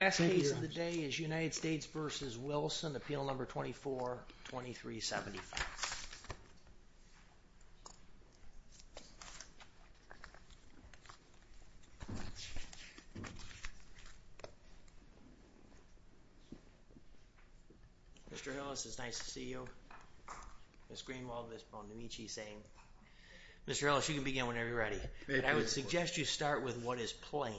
The best case of the day is United States v. Wilson, appeal number 24-2375. Mr. Hillis, it's nice to see you. Ms. Greenwald, Ms. Bonamici, same. Mr. Hillis, you can begin whenever you're ready. And I would suggest you start with what is plain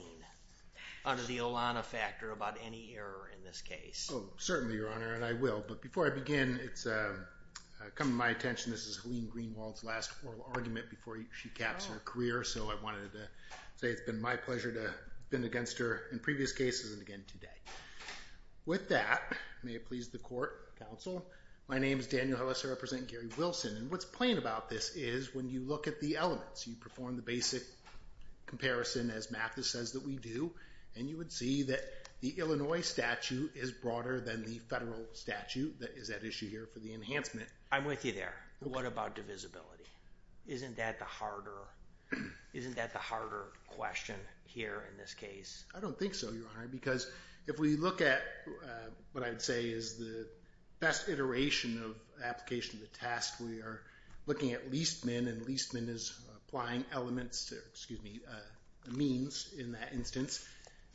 under the Olana factor about any error in this case. Oh, certainly, Your Honor, and I will. But before I begin, it's come to my attention this is Helene Greenwald's last oral argument before she caps her career. So I wanted to say it's been my pleasure to have been against her in previous cases and again today. With that, may it please the court, counsel, my name is Daniel Hillis. I represent Gary Wilson. And what's plain about this is when you look at the elements, you perform the basic comparison as Mathis says that we do, and you would see that the Illinois statute is broader than the federal statute that is at issue here for the enhancement. I'm with you there. What about divisibility? Isn't that the harder question here in this case? I don't think so, Your Honor, because if we look at what I'd say is the best iteration of application of the task, we are looking at least men, and least men is applying elements, excuse me, means in that instance.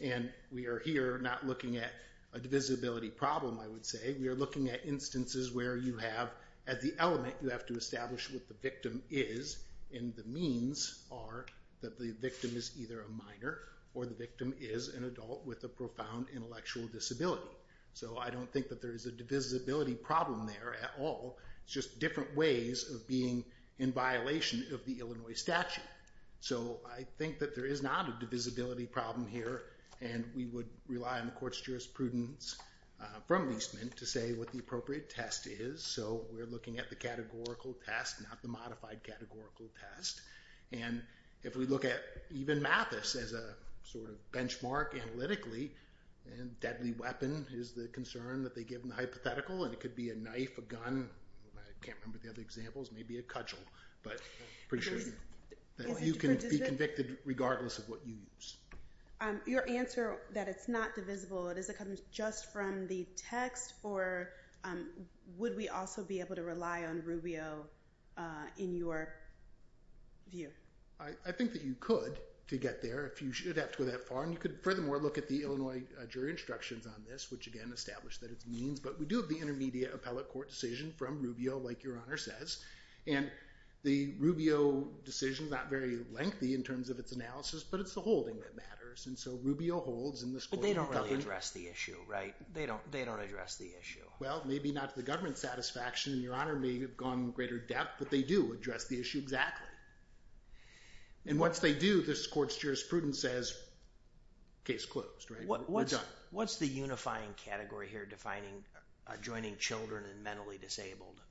And we are here not looking at a divisibility problem, I would say. We are looking at instances where you have at the element you have to establish what the victim is, and the means are that the victim is either a minor or the victim is an adult with a profound intellectual disability. So I don't think that there is a divisibility problem there at all. It's just different ways of being in violation of the Illinois statute. So I think that there is not a divisibility problem here, and we would rely on the court's jurisprudence from these men to say what the appropriate test is. So we're looking at the categorical test, not the modified categorical test. And if we look at even Mathis as a sort of benchmark analytically, deadly weapon is the concern that they give in the hypothetical, and it could be a knife, a gun, I can't remember the other examples, maybe a cudgel, but pretty sure that you can be convicted regardless of what you use. Your answer that it's not divisible, does it come just from the text, or would we also be able to rely on Rubio in your view? I think that you could to get there if you should have to go that far, and you could furthermore look at the Illinois jury instructions on this, which again establish that it means, but we do have the intermediate appellate court decision from Rubio, like Your Honor says, and the Rubio decision is not very lengthy in terms of its analysis, but it's the holding that matters, and so Rubio holds in this court. But they don't really address the issue, right? They don't address the issue. Well, maybe not to the government's satisfaction, and Your Honor may have gone into greater depth, but they do address the issue exactly. And once they do, this court's jurisprudence says case closed, right? We're done. What's the unifying category here defining adjoining children and mentally disabled?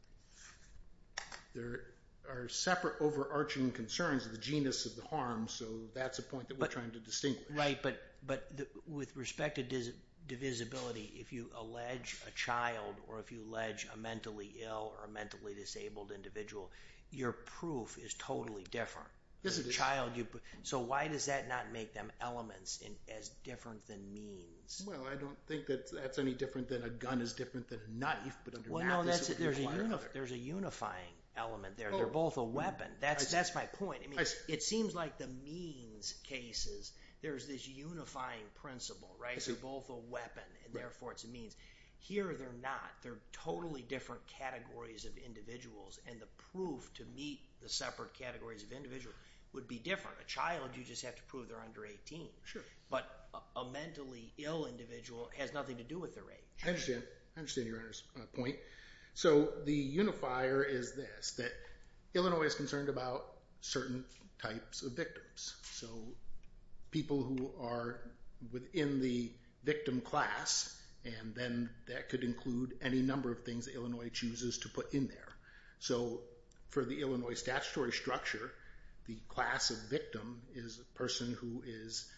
There are separate overarching concerns of the genus of the harm, so that's a point that we're trying to distinguish. Right, but with respect to divisibility, if you allege a child or if you allege a mentally ill or a mentally disabled individual, your proof is totally different. So why does that not make them elements as different than means? Well, I don't think that that's any different than a gun is different than a knife. Well, no, there's a unifying element there. They're both a weapon. That's my point. It seems like the means cases, there's this unifying principle, right? They're both a weapon, and therefore it's a means. Here they're not. They're totally different categories of individuals, and the proof to meet the separate categories of individual would be different. A child, you just have to prove they're under 18. Sure. But a mentally ill individual has nothing to do with their age. I understand. I understand your point. So the unifier is this, that Illinois is concerned about certain types of victims. So people who are within the victim class, and then that could include any number of things that Illinois chooses to put in there. So for the Illinois statutory structure, the class of victim is a person who is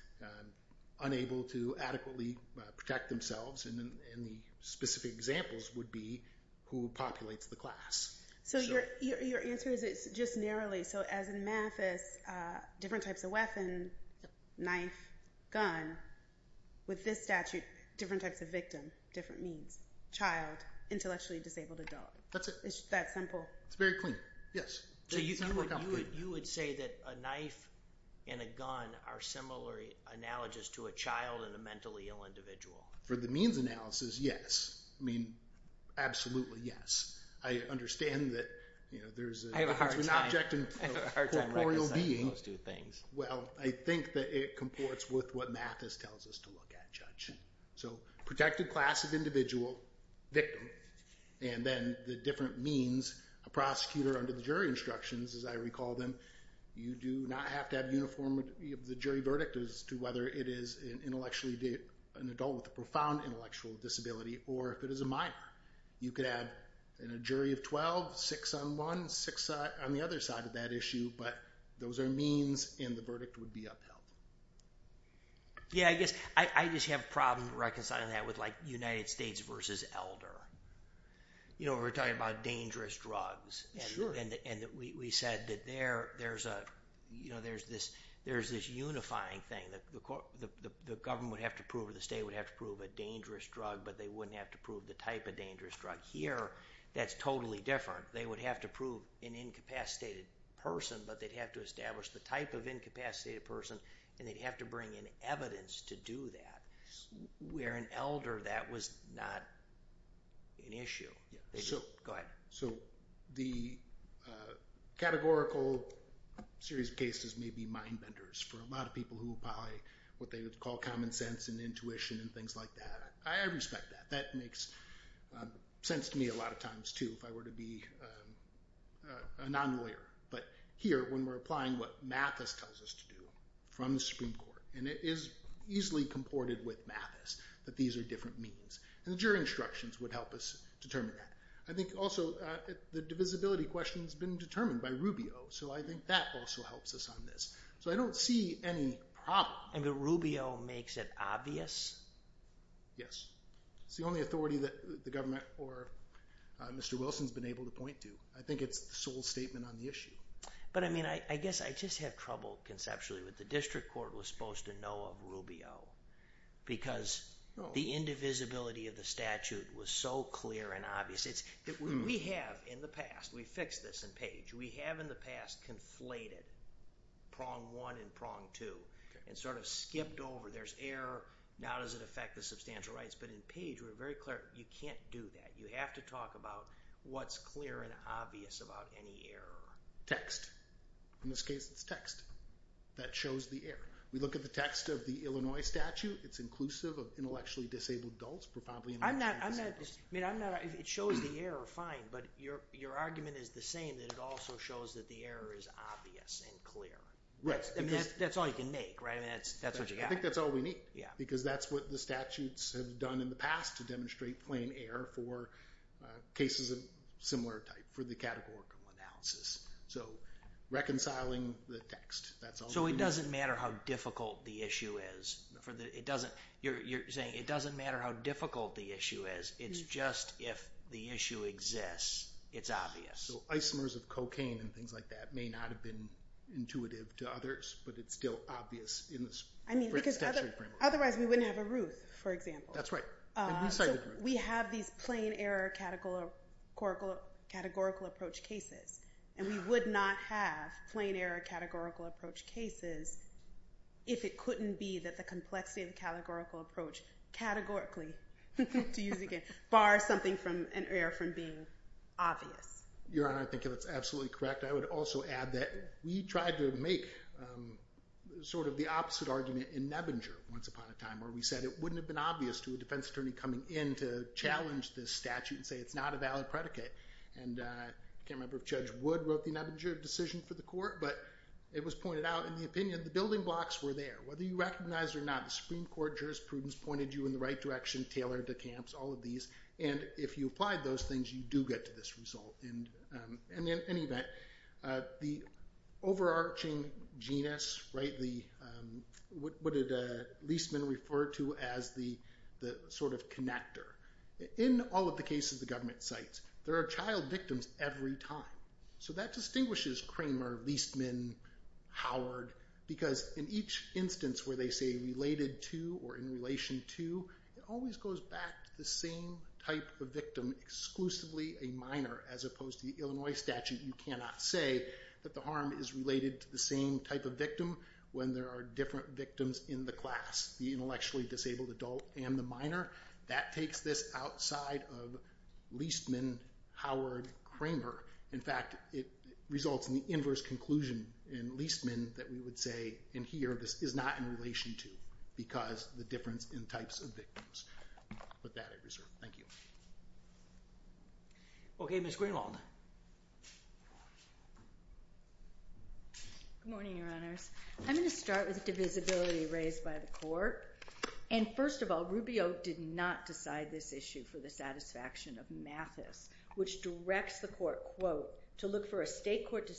unable to adequately protect themselves, and the specific examples would be who populates the class. So your answer is it's just narrowly. So as in Mathis, different types of weapon, knife, gun, with this statute, different types of victim, different means. Child, intellectually disabled adult. That's it. It's that simple. It's very clean. Yes. So you would say that a knife and a gun are similar analogous to a child and a mentally ill individual. For the means analysis, yes. I mean, absolutely yes. I understand that there's an object and a corporeal being. I have a hard time recognizing those two things. Well, I think that it comports with what Mathis tells us to look at, Judge. So protected class of individual, victim, and then the different means, a prosecutor under the jury instructions, as I recall them, you do not have to have uniformity of the jury verdict as to whether it is an adult with a profound intellectual disability or if it is a minor. You could have a jury of 12, 6 on one, 6 on the other side of that issue, but those are means and the verdict would be upheld. Yeah, I guess I just have a problem reconciling that with, like, United States versus elder. You know, we're talking about dangerous drugs. And we said that there's this unifying thing. The government would have to prove or the state would have to prove a dangerous drug, but they wouldn't have to prove the type of dangerous drug. Here, that's totally different. They would have to prove an incapacitated person, but they'd have to establish the type of incapacitated person, and they'd have to bring in evidence to do that. Where an elder, that was not an issue. Go ahead. So the categorical series of cases may be mind benders for a lot of people who apply what they would call common sense and intuition and things like that. I respect that. That makes sense to me a lot of times, too, if I were to be a non-lawyer. But here, when we're applying what Mathis tells us to do from the Supreme Court, and it is easily comported with Mathis that these are different means, and the jury instructions would help us determine that. I think also the divisibility question has been determined by Rubio, so I think that also helps us on this. So I don't see any problem. I mean, Rubio makes it obvious? Yes. It's the only authority that the government or Mr. Wilson has been able to point to. I think it's the sole statement on the issue. But, I mean, I guess I just have trouble conceptually with the district court was supposed to know of Rubio because the indivisibility of the statute was so clear and obvious. We have in the past, we fixed this in Page, we have in the past conflated prong one and prong two and sort of skipped over. There's error, now does it affect the substantial rights? But in Page, we're very clear, you can't do that. You have to talk about what's clear and obvious about any error. Text. In this case, it's text that shows the error. We look at the text of the Illinois statute, it's inclusive of intellectually disabled adults, profoundly illiterate. I'm not, I mean, I'm not, it shows the error, fine, but your argument is the same, that it also shows that the error is obvious and clear. Right. That's all you can make, right? I mean, that's what you got. I think that's all we need. Yeah. Because that's what the statutes have done in the past to demonstrate plain error for cases of similar type, for the categorical analysis. So reconciling the text, that's all we need. So it doesn't matter how difficult the issue is. It doesn't, you're saying it doesn't matter how difficult the issue is, it's just if the issue exists, it's obvious. So isomers of cocaine and things like that may not have been intuitive to others, but it's still obvious in this statute framework. I mean, because otherwise we wouldn't have a Ruth, for example. That's right. And we cited Ruth. So we have these plain error categorical approach cases, and we would not have plain error categorical approach cases if it couldn't be that the complexity of the categorical approach, categorically, to use it again, bars something from an error from being obvious. Your Honor, I think that's absolutely correct. I would also add that we tried to make sort of the opposite argument in Nebinger once upon a time where we said it wouldn't have been obvious to a defense attorney coming in to challenge this statute and say it's not a valid predicate. And I can't remember if Judge Wood wrote the Nebinger decision for the court, but it was pointed out in the opinion the building blocks were there. Whether you recognize it or not, the Supreme Court jurisprudence pointed you in the right direction, tailored the camps, all of these. And if you applied those things, you do get to this result. And in any event, the overarching genus, what did Leastman refer to as the sort of connector? In all of the cases the government cites, there are child victims every time. So that distinguishes Kramer, Leastman, Howard, because in each instance where they say related to or in relation to, it always goes back to the same type of victim, exclusively a minor, as opposed to the Illinois statute. You cannot say that the harm is related to the same type of victim when there are different victims in the class, the intellectually disabled adult and the minor. That takes this outside of Leastman, Howard, Kramer. In fact, it results in the inverse conclusion in Leastman that we would say in here this is not in relation to because the difference in types of victims. I'll put that at reserve. Thank you. Okay, Ms. Greenwald. Good morning, Your Honors. I'm going to start with the divisibility raised by the court. And first of all, Rubio did not decide this issue for the satisfaction of Mathis, which directs the court, quote, to look for a state court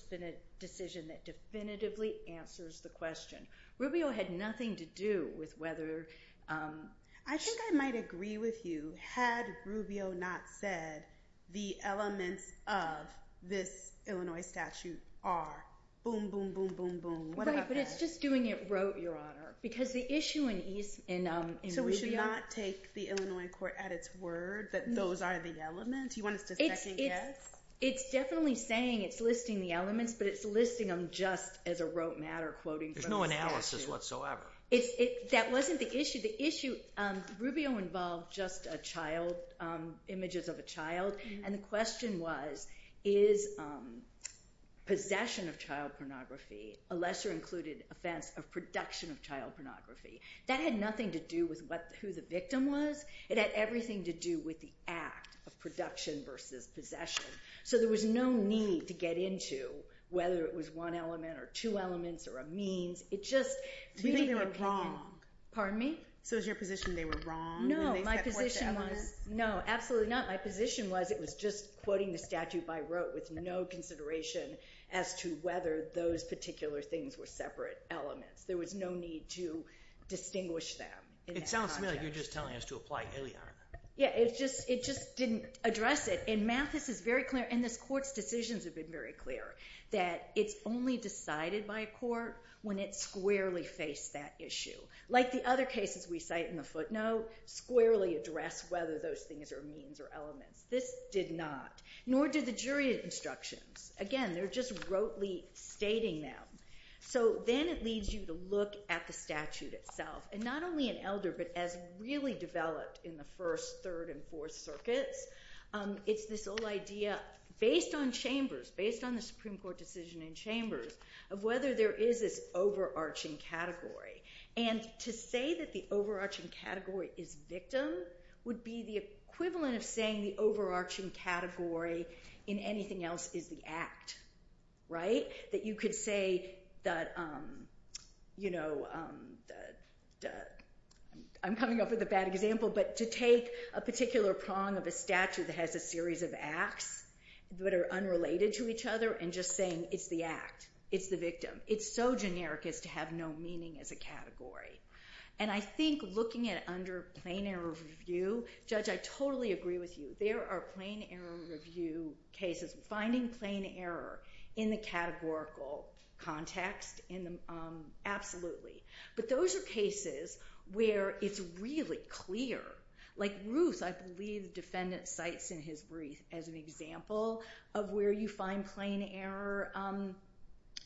decision that definitively answers the question. Rubio had nothing to do with whether... I think I might agree with you had Rubio not said the elements of this Illinois statute are boom, boom, boom, boom, boom. Right, but it's just doing it rote, Your Honor, because the issue in Rubio... So we should not take the Illinois court at its word that those are the elements? You want us to second guess? It's definitely saying it's listing the elements, but it's listing them just as a rote matter, quoting from the statute. There's no analysis whatsoever. That wasn't the issue. Rubio involved just images of a child, and the question was, is possession of child pornography, a lesser included offense of production of child pornography, that had nothing to do with who the victim was. It had everything to do with the act of production versus possession. So there was no need to get into whether it was one element or two elements or a means. We think they were wrong. Pardon me? So is your position they were wrong when they set forth the elements? No, absolutely not. My position was it was just quoting the statute by rote with no consideration as to whether those particular things were separate elements. There was no need to distinguish them. It sounds to me like you're just telling us to apply Iliad. Yeah, it just didn't address it. And Mathis is very clear, and this court's decisions have been very clear, that it's only decided by a court when it squarely faced that issue. Like the other cases we cite in the footnote, squarely addressed whether those things are means or elements. This did not, nor did the jury instructions. Again, they're just rotely stating them. So then it leads you to look at the statute itself, and not only in Elder but as really developed in the first, third, and fourth circuits. It's this whole idea based on Chambers, based on the Supreme Court decision in Chambers, of whether there is this overarching category. And to say that the overarching category is victim would be the equivalent of saying the overarching category in anything else is the act, right? That you could say that, you know, I'm coming up with a bad example, but to take a particular prong of a statute that has a series of acts that are unrelated to each other and just saying it's the act, it's the victim. It's so generic as to have no meaning as a category. And I think looking at it under plain error review, Judge, I totally agree with you. There are plain error review cases. Finding plain error in the categorical context, absolutely. But those are cases where it's really clear. Like Ruth, I believe the defendant cites in his brief as an example of where you find plain error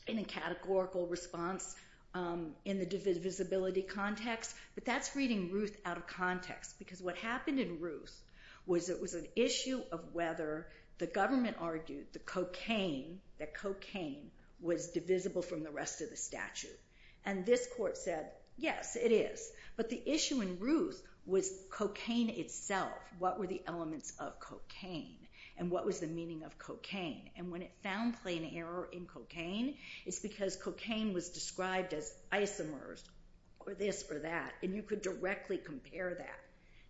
in a categorical response in the divisibility context. But that's reading Ruth out of context, because what happened in Ruth was it was an issue of whether the government argued the cocaine, that cocaine was divisible from the rest of the statute. And this court said, yes, it is. But the issue in Ruth was cocaine itself. What were the elements of cocaine and what was the meaning of cocaine? And when it found plain error in cocaine, it's because cocaine was described as isomers or this or that, and you could directly compare that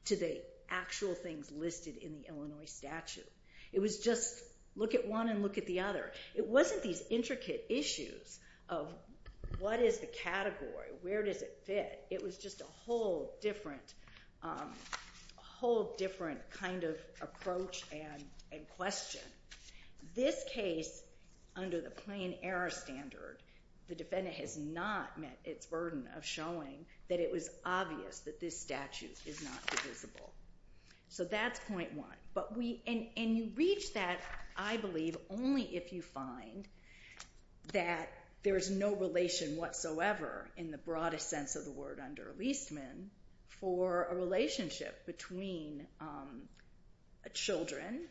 to the actual things listed in the Illinois statute. It was just look at one and look at the other. It wasn't these intricate issues of what is the category, where does it fit? It was just a whole different kind of approach and question. This case, under the plain error standard, the defendant has not met its burden of showing that it was obvious that this statute is not divisible. So that's point one. And you reach that, I believe, only if you find that there is no relation whatsoever, in the broadest sense of the word under Leastman, for a relationship between children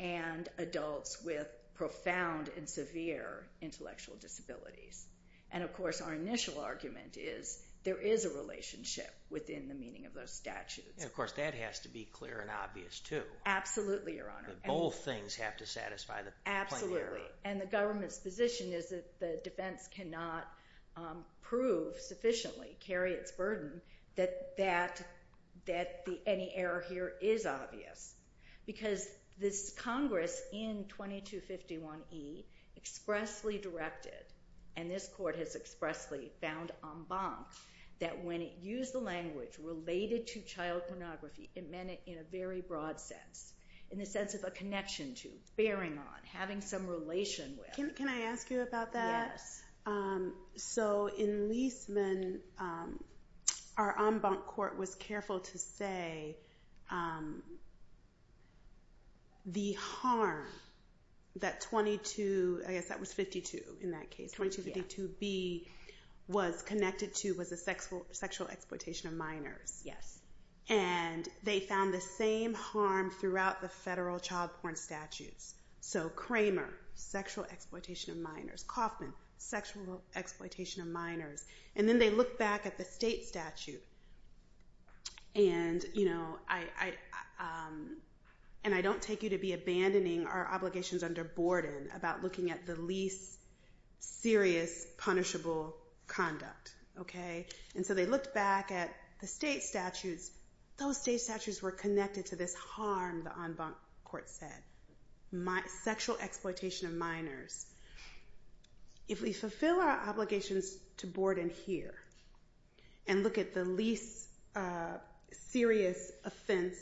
and adults with profound and severe intellectual disabilities. And, of course, our initial argument is there is a relationship within the meaning of those statutes. And, of course, that has to be clear and obvious, too. Absolutely, Your Honor. Both things have to satisfy the plain error. And the government's position is that the defense cannot prove sufficiently, carry its burden, that any error here is obvious. Because this Congress in 2251e expressly directed, and this court has expressly found en banc, that when it used the language related to child pornography, it meant it in a very broad sense, in the sense of a connection to, bearing on, having some relation with. Can I ask you about that? Yes. So in Leastman, our en banc court was careful to say the harm that 2252b was connected to was the sexual exploitation of minors. Yes. And they found the same harm throughout the federal child porn statutes. So Kramer, sexual exploitation of minors. Kauffman, sexual exploitation of minors. And then they looked back at the state statute and I don't take you to be abandoning our obligations under Borden about looking at the least serious, punishable conduct. And so they looked back at the state statutes. Those state statutes were connected to this harm, the en banc court said. Sexual exploitation of minors. If we fulfill our obligations to Borden here and look at the least serious offense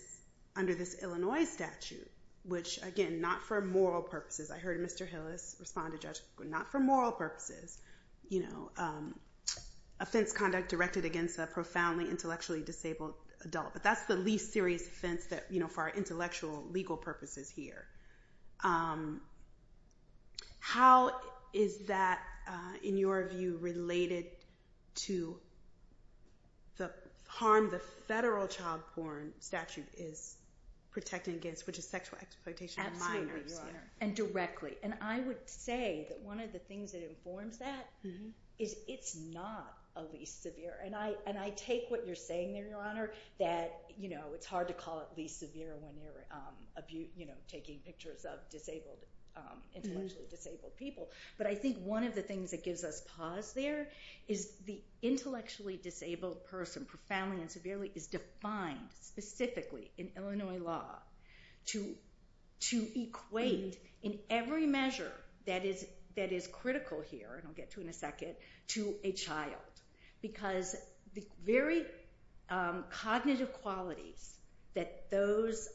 under this Illinois statute, which again, not for moral purposes, I heard Mr. Hillis respond to Judge Quinn, not for moral purposes, offense conduct directed against a profoundly intellectually disabled adult. But that's the least serious offense for our intellectual legal purposes here. How is that, in your view, related to the harm the federal child porn statute is protecting against, which is sexual exploitation of minors? And directly. And I would say that one of the things that informs that is it's not a least severe. And I take what you're saying there, Your Honor, that it's hard to call it least severe when you're taking pictures of intellectually disabled people. But I think one of the things that gives us pause there is the intellectually disabled person, profoundly and severely, is defined specifically in Illinois law to equate in every measure that is critical here, and I'll get to in a second, to a child. Because the very cognitive qualities that those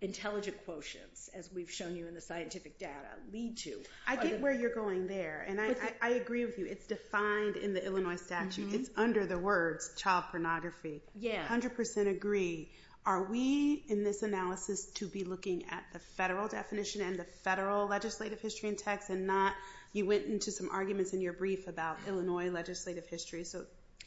intelligent quotients, as we've shown you in the scientific data, lead to... I get where you're going there, and I agree with you. It's defined in the Illinois statute. It's under the words child pornography. I 100% agree. Are we, in this analysis, to be looking at the federal definition and the federal legislative history in text and not, you went into some arguments in your brief about Illinois legislative history, so...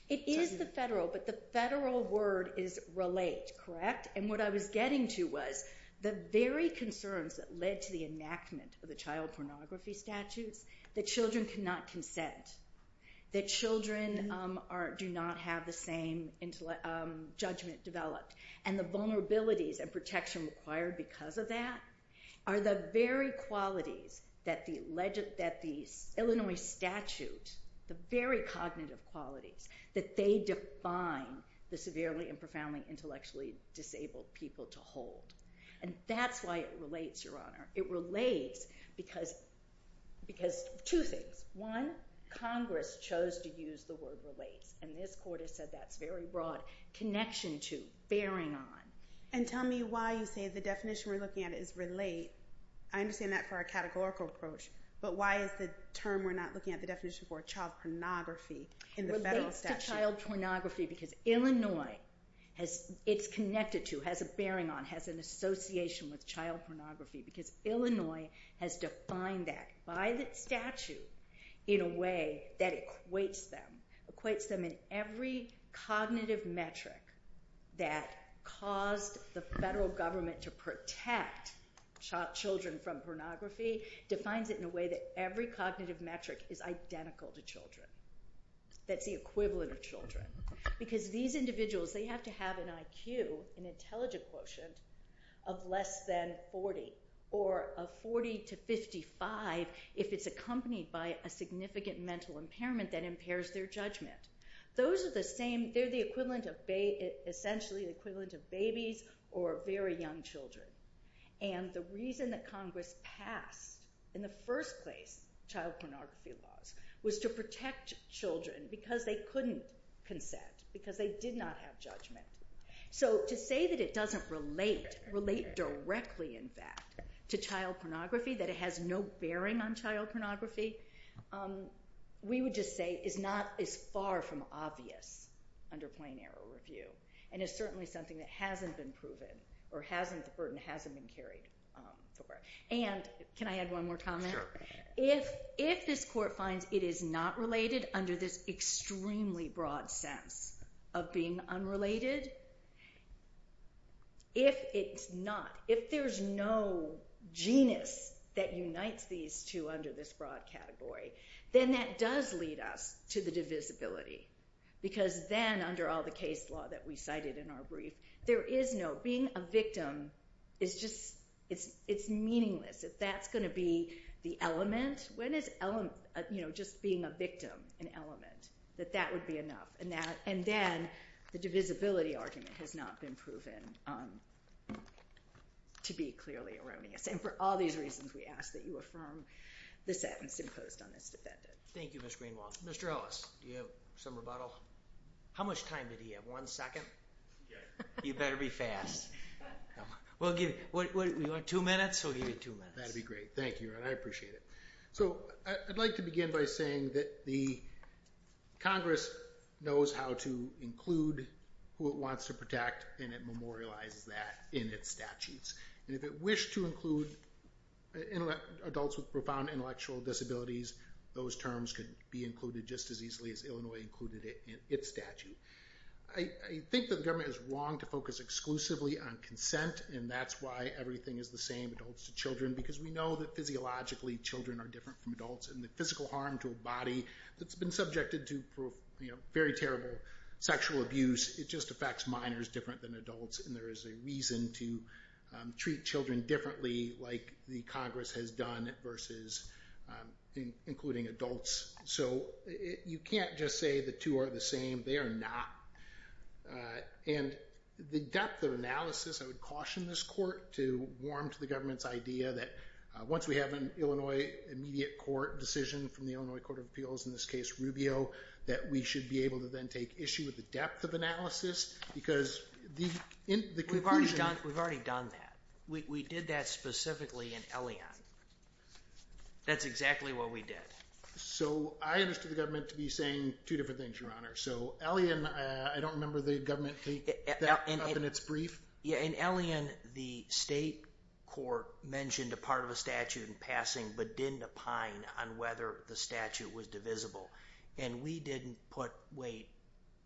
It is the federal, but the federal word is relate, correct? And what I was getting to was the very concerns that led to the enactment of the child pornography statutes, that children cannot consent, that children do not have the same judgment developed, and the vulnerabilities and protection required because of that are the very qualities that the Illinois statute, the very cognitive qualities that they define the severely and profoundly intellectually disabled people to hold. And that's why it relates, Your Honor. It relates because two things. One, Congress chose to use the word relates, and this court has said that's very broad connection to, bearing on. And tell me why you say the definition we're looking at is relate. I understand that for a categorical approach, but why is the term we're not looking at the definition for, child pornography, in the federal statute? Relates to child pornography because Illinois, it's connected to, has a bearing on, has an association with child pornography because Illinois has defined that by the statute in a way that equates them, equates them in every cognitive metric that caused the federal government to protect children from pornography, defines it in a way that every cognitive metric is identical to children, that's the equivalent of children. Because these individuals, they have to have an IQ, an intelligent quotient, of less than 40, or of 40 to 55 if it's accompanied by a significant mental impairment that impairs their judgment. Those are the same, they're the equivalent of, essentially the equivalent of babies or very young children. And the reason that Congress passed, in the first place, child pornography laws was to protect children because they couldn't consent, because they did not have judgment. So to say that it doesn't relate, relate directly in fact to child pornography, that it has no bearing on child pornography, we would just say is not as far from obvious under plain error review. And it's certainly something that hasn't been proven, or the burden hasn't been carried. And can I add one more comment? If this court finds it is not related under this extremely broad sense of being unrelated, if it's not, if there's no genus that unites these two under this broad category, then that does lead us to the divisibility. Because then, under all the case law that we cited in our brief, there is no, being a victim is just, it's meaningless. If that's going to be the element, when is element, you know, just being a victim an element? That that would be enough. And then the divisibility argument has not been proven to be clearly erroneous. And for all these reasons, we ask that you affirm the sentence imposed on this defendant. Thank you, Ms. Greenwald. Mr. Ellis, do you have some rebuttal? How much time did he have? One second? You better be fast. We'll give you, you want two minutes? We'll give you two minutes. That'd be great. Thank you, and I appreciate it. So I'd like to begin by saying that the Congress knows how to include who it wants to protect, and it memorializes that in its statutes. And if it wished to include adults with profound intellectual disabilities, those terms could be included just as easily as Illinois included it in its statute. I think that the government is wrong to focus exclusively on consent, and that's why everything is the same, adults to children, because we know that physiologically children are different from adults, and the physical harm to a body that's been subjected to, you know, very terrible sexual abuse, it just affects minors different than adults, and there is a reason to treat children differently like the Congress has done versus including adults. So you can't just say the two are the same. They are not. And the depth of analysis, I would caution this court to warm to the government's idea that once we have an Illinois immediate court decision from the Illinois Court of Appeals, in this case Rubio, that we should be able to then take issue with the depth of analysis, because the conclusion is... We've already done that. We did that specifically in Elion. That's exactly what we did. So I understood the government to be saying two different things, Your Honor. So Elion, I don't remember the government taking that up in its brief. In Elion, the state court mentioned a part of a statute in passing but didn't opine on whether the statute was divisible, and we didn't put weight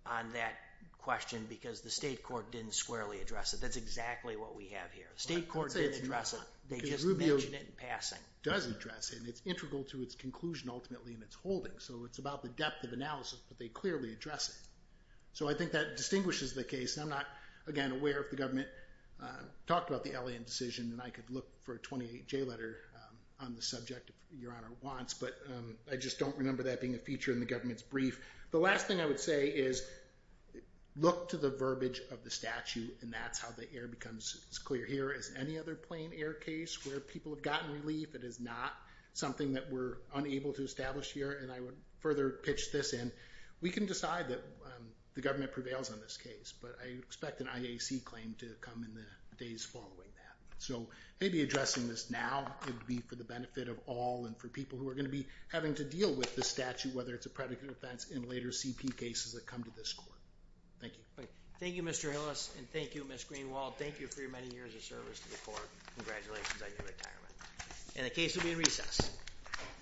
on that question because the state court didn't squarely address it. That's exactly what we have here. The state court didn't address it. They just mentioned it in passing. Rubio does address it, and it's integral to its conclusion ultimately in its holding, so it's about the depth of analysis, but they clearly address it. So I think that distinguishes the case, and I'm not, again, aware if the government talked about the Elion decision, and I could look for a 28J letter on the subject if Your Honor wants, but I just don't remember that being a feature in the government's brief. The last thing I would say is look to the verbiage of the statute, and that's how the air becomes as clear here as any other plain air case where people have gotten relief. It is not something that we're unable to establish here, and I would further pitch this in. We can decide that the government prevails on this case, but I expect an IAC claim to come in the days following that. So maybe addressing this now would be for the benefit of all and for people who are going to be having to deal with the statute, whether it's a predicate offense in later CP cases that come to this court. Thank you. Thank you, Mr. Hillis, and thank you, Ms. Greenwald. Thank you for your many years of service to the court. Congratulations on your retirement. And the case will be in recess. Thank you. Thank you. Thank you.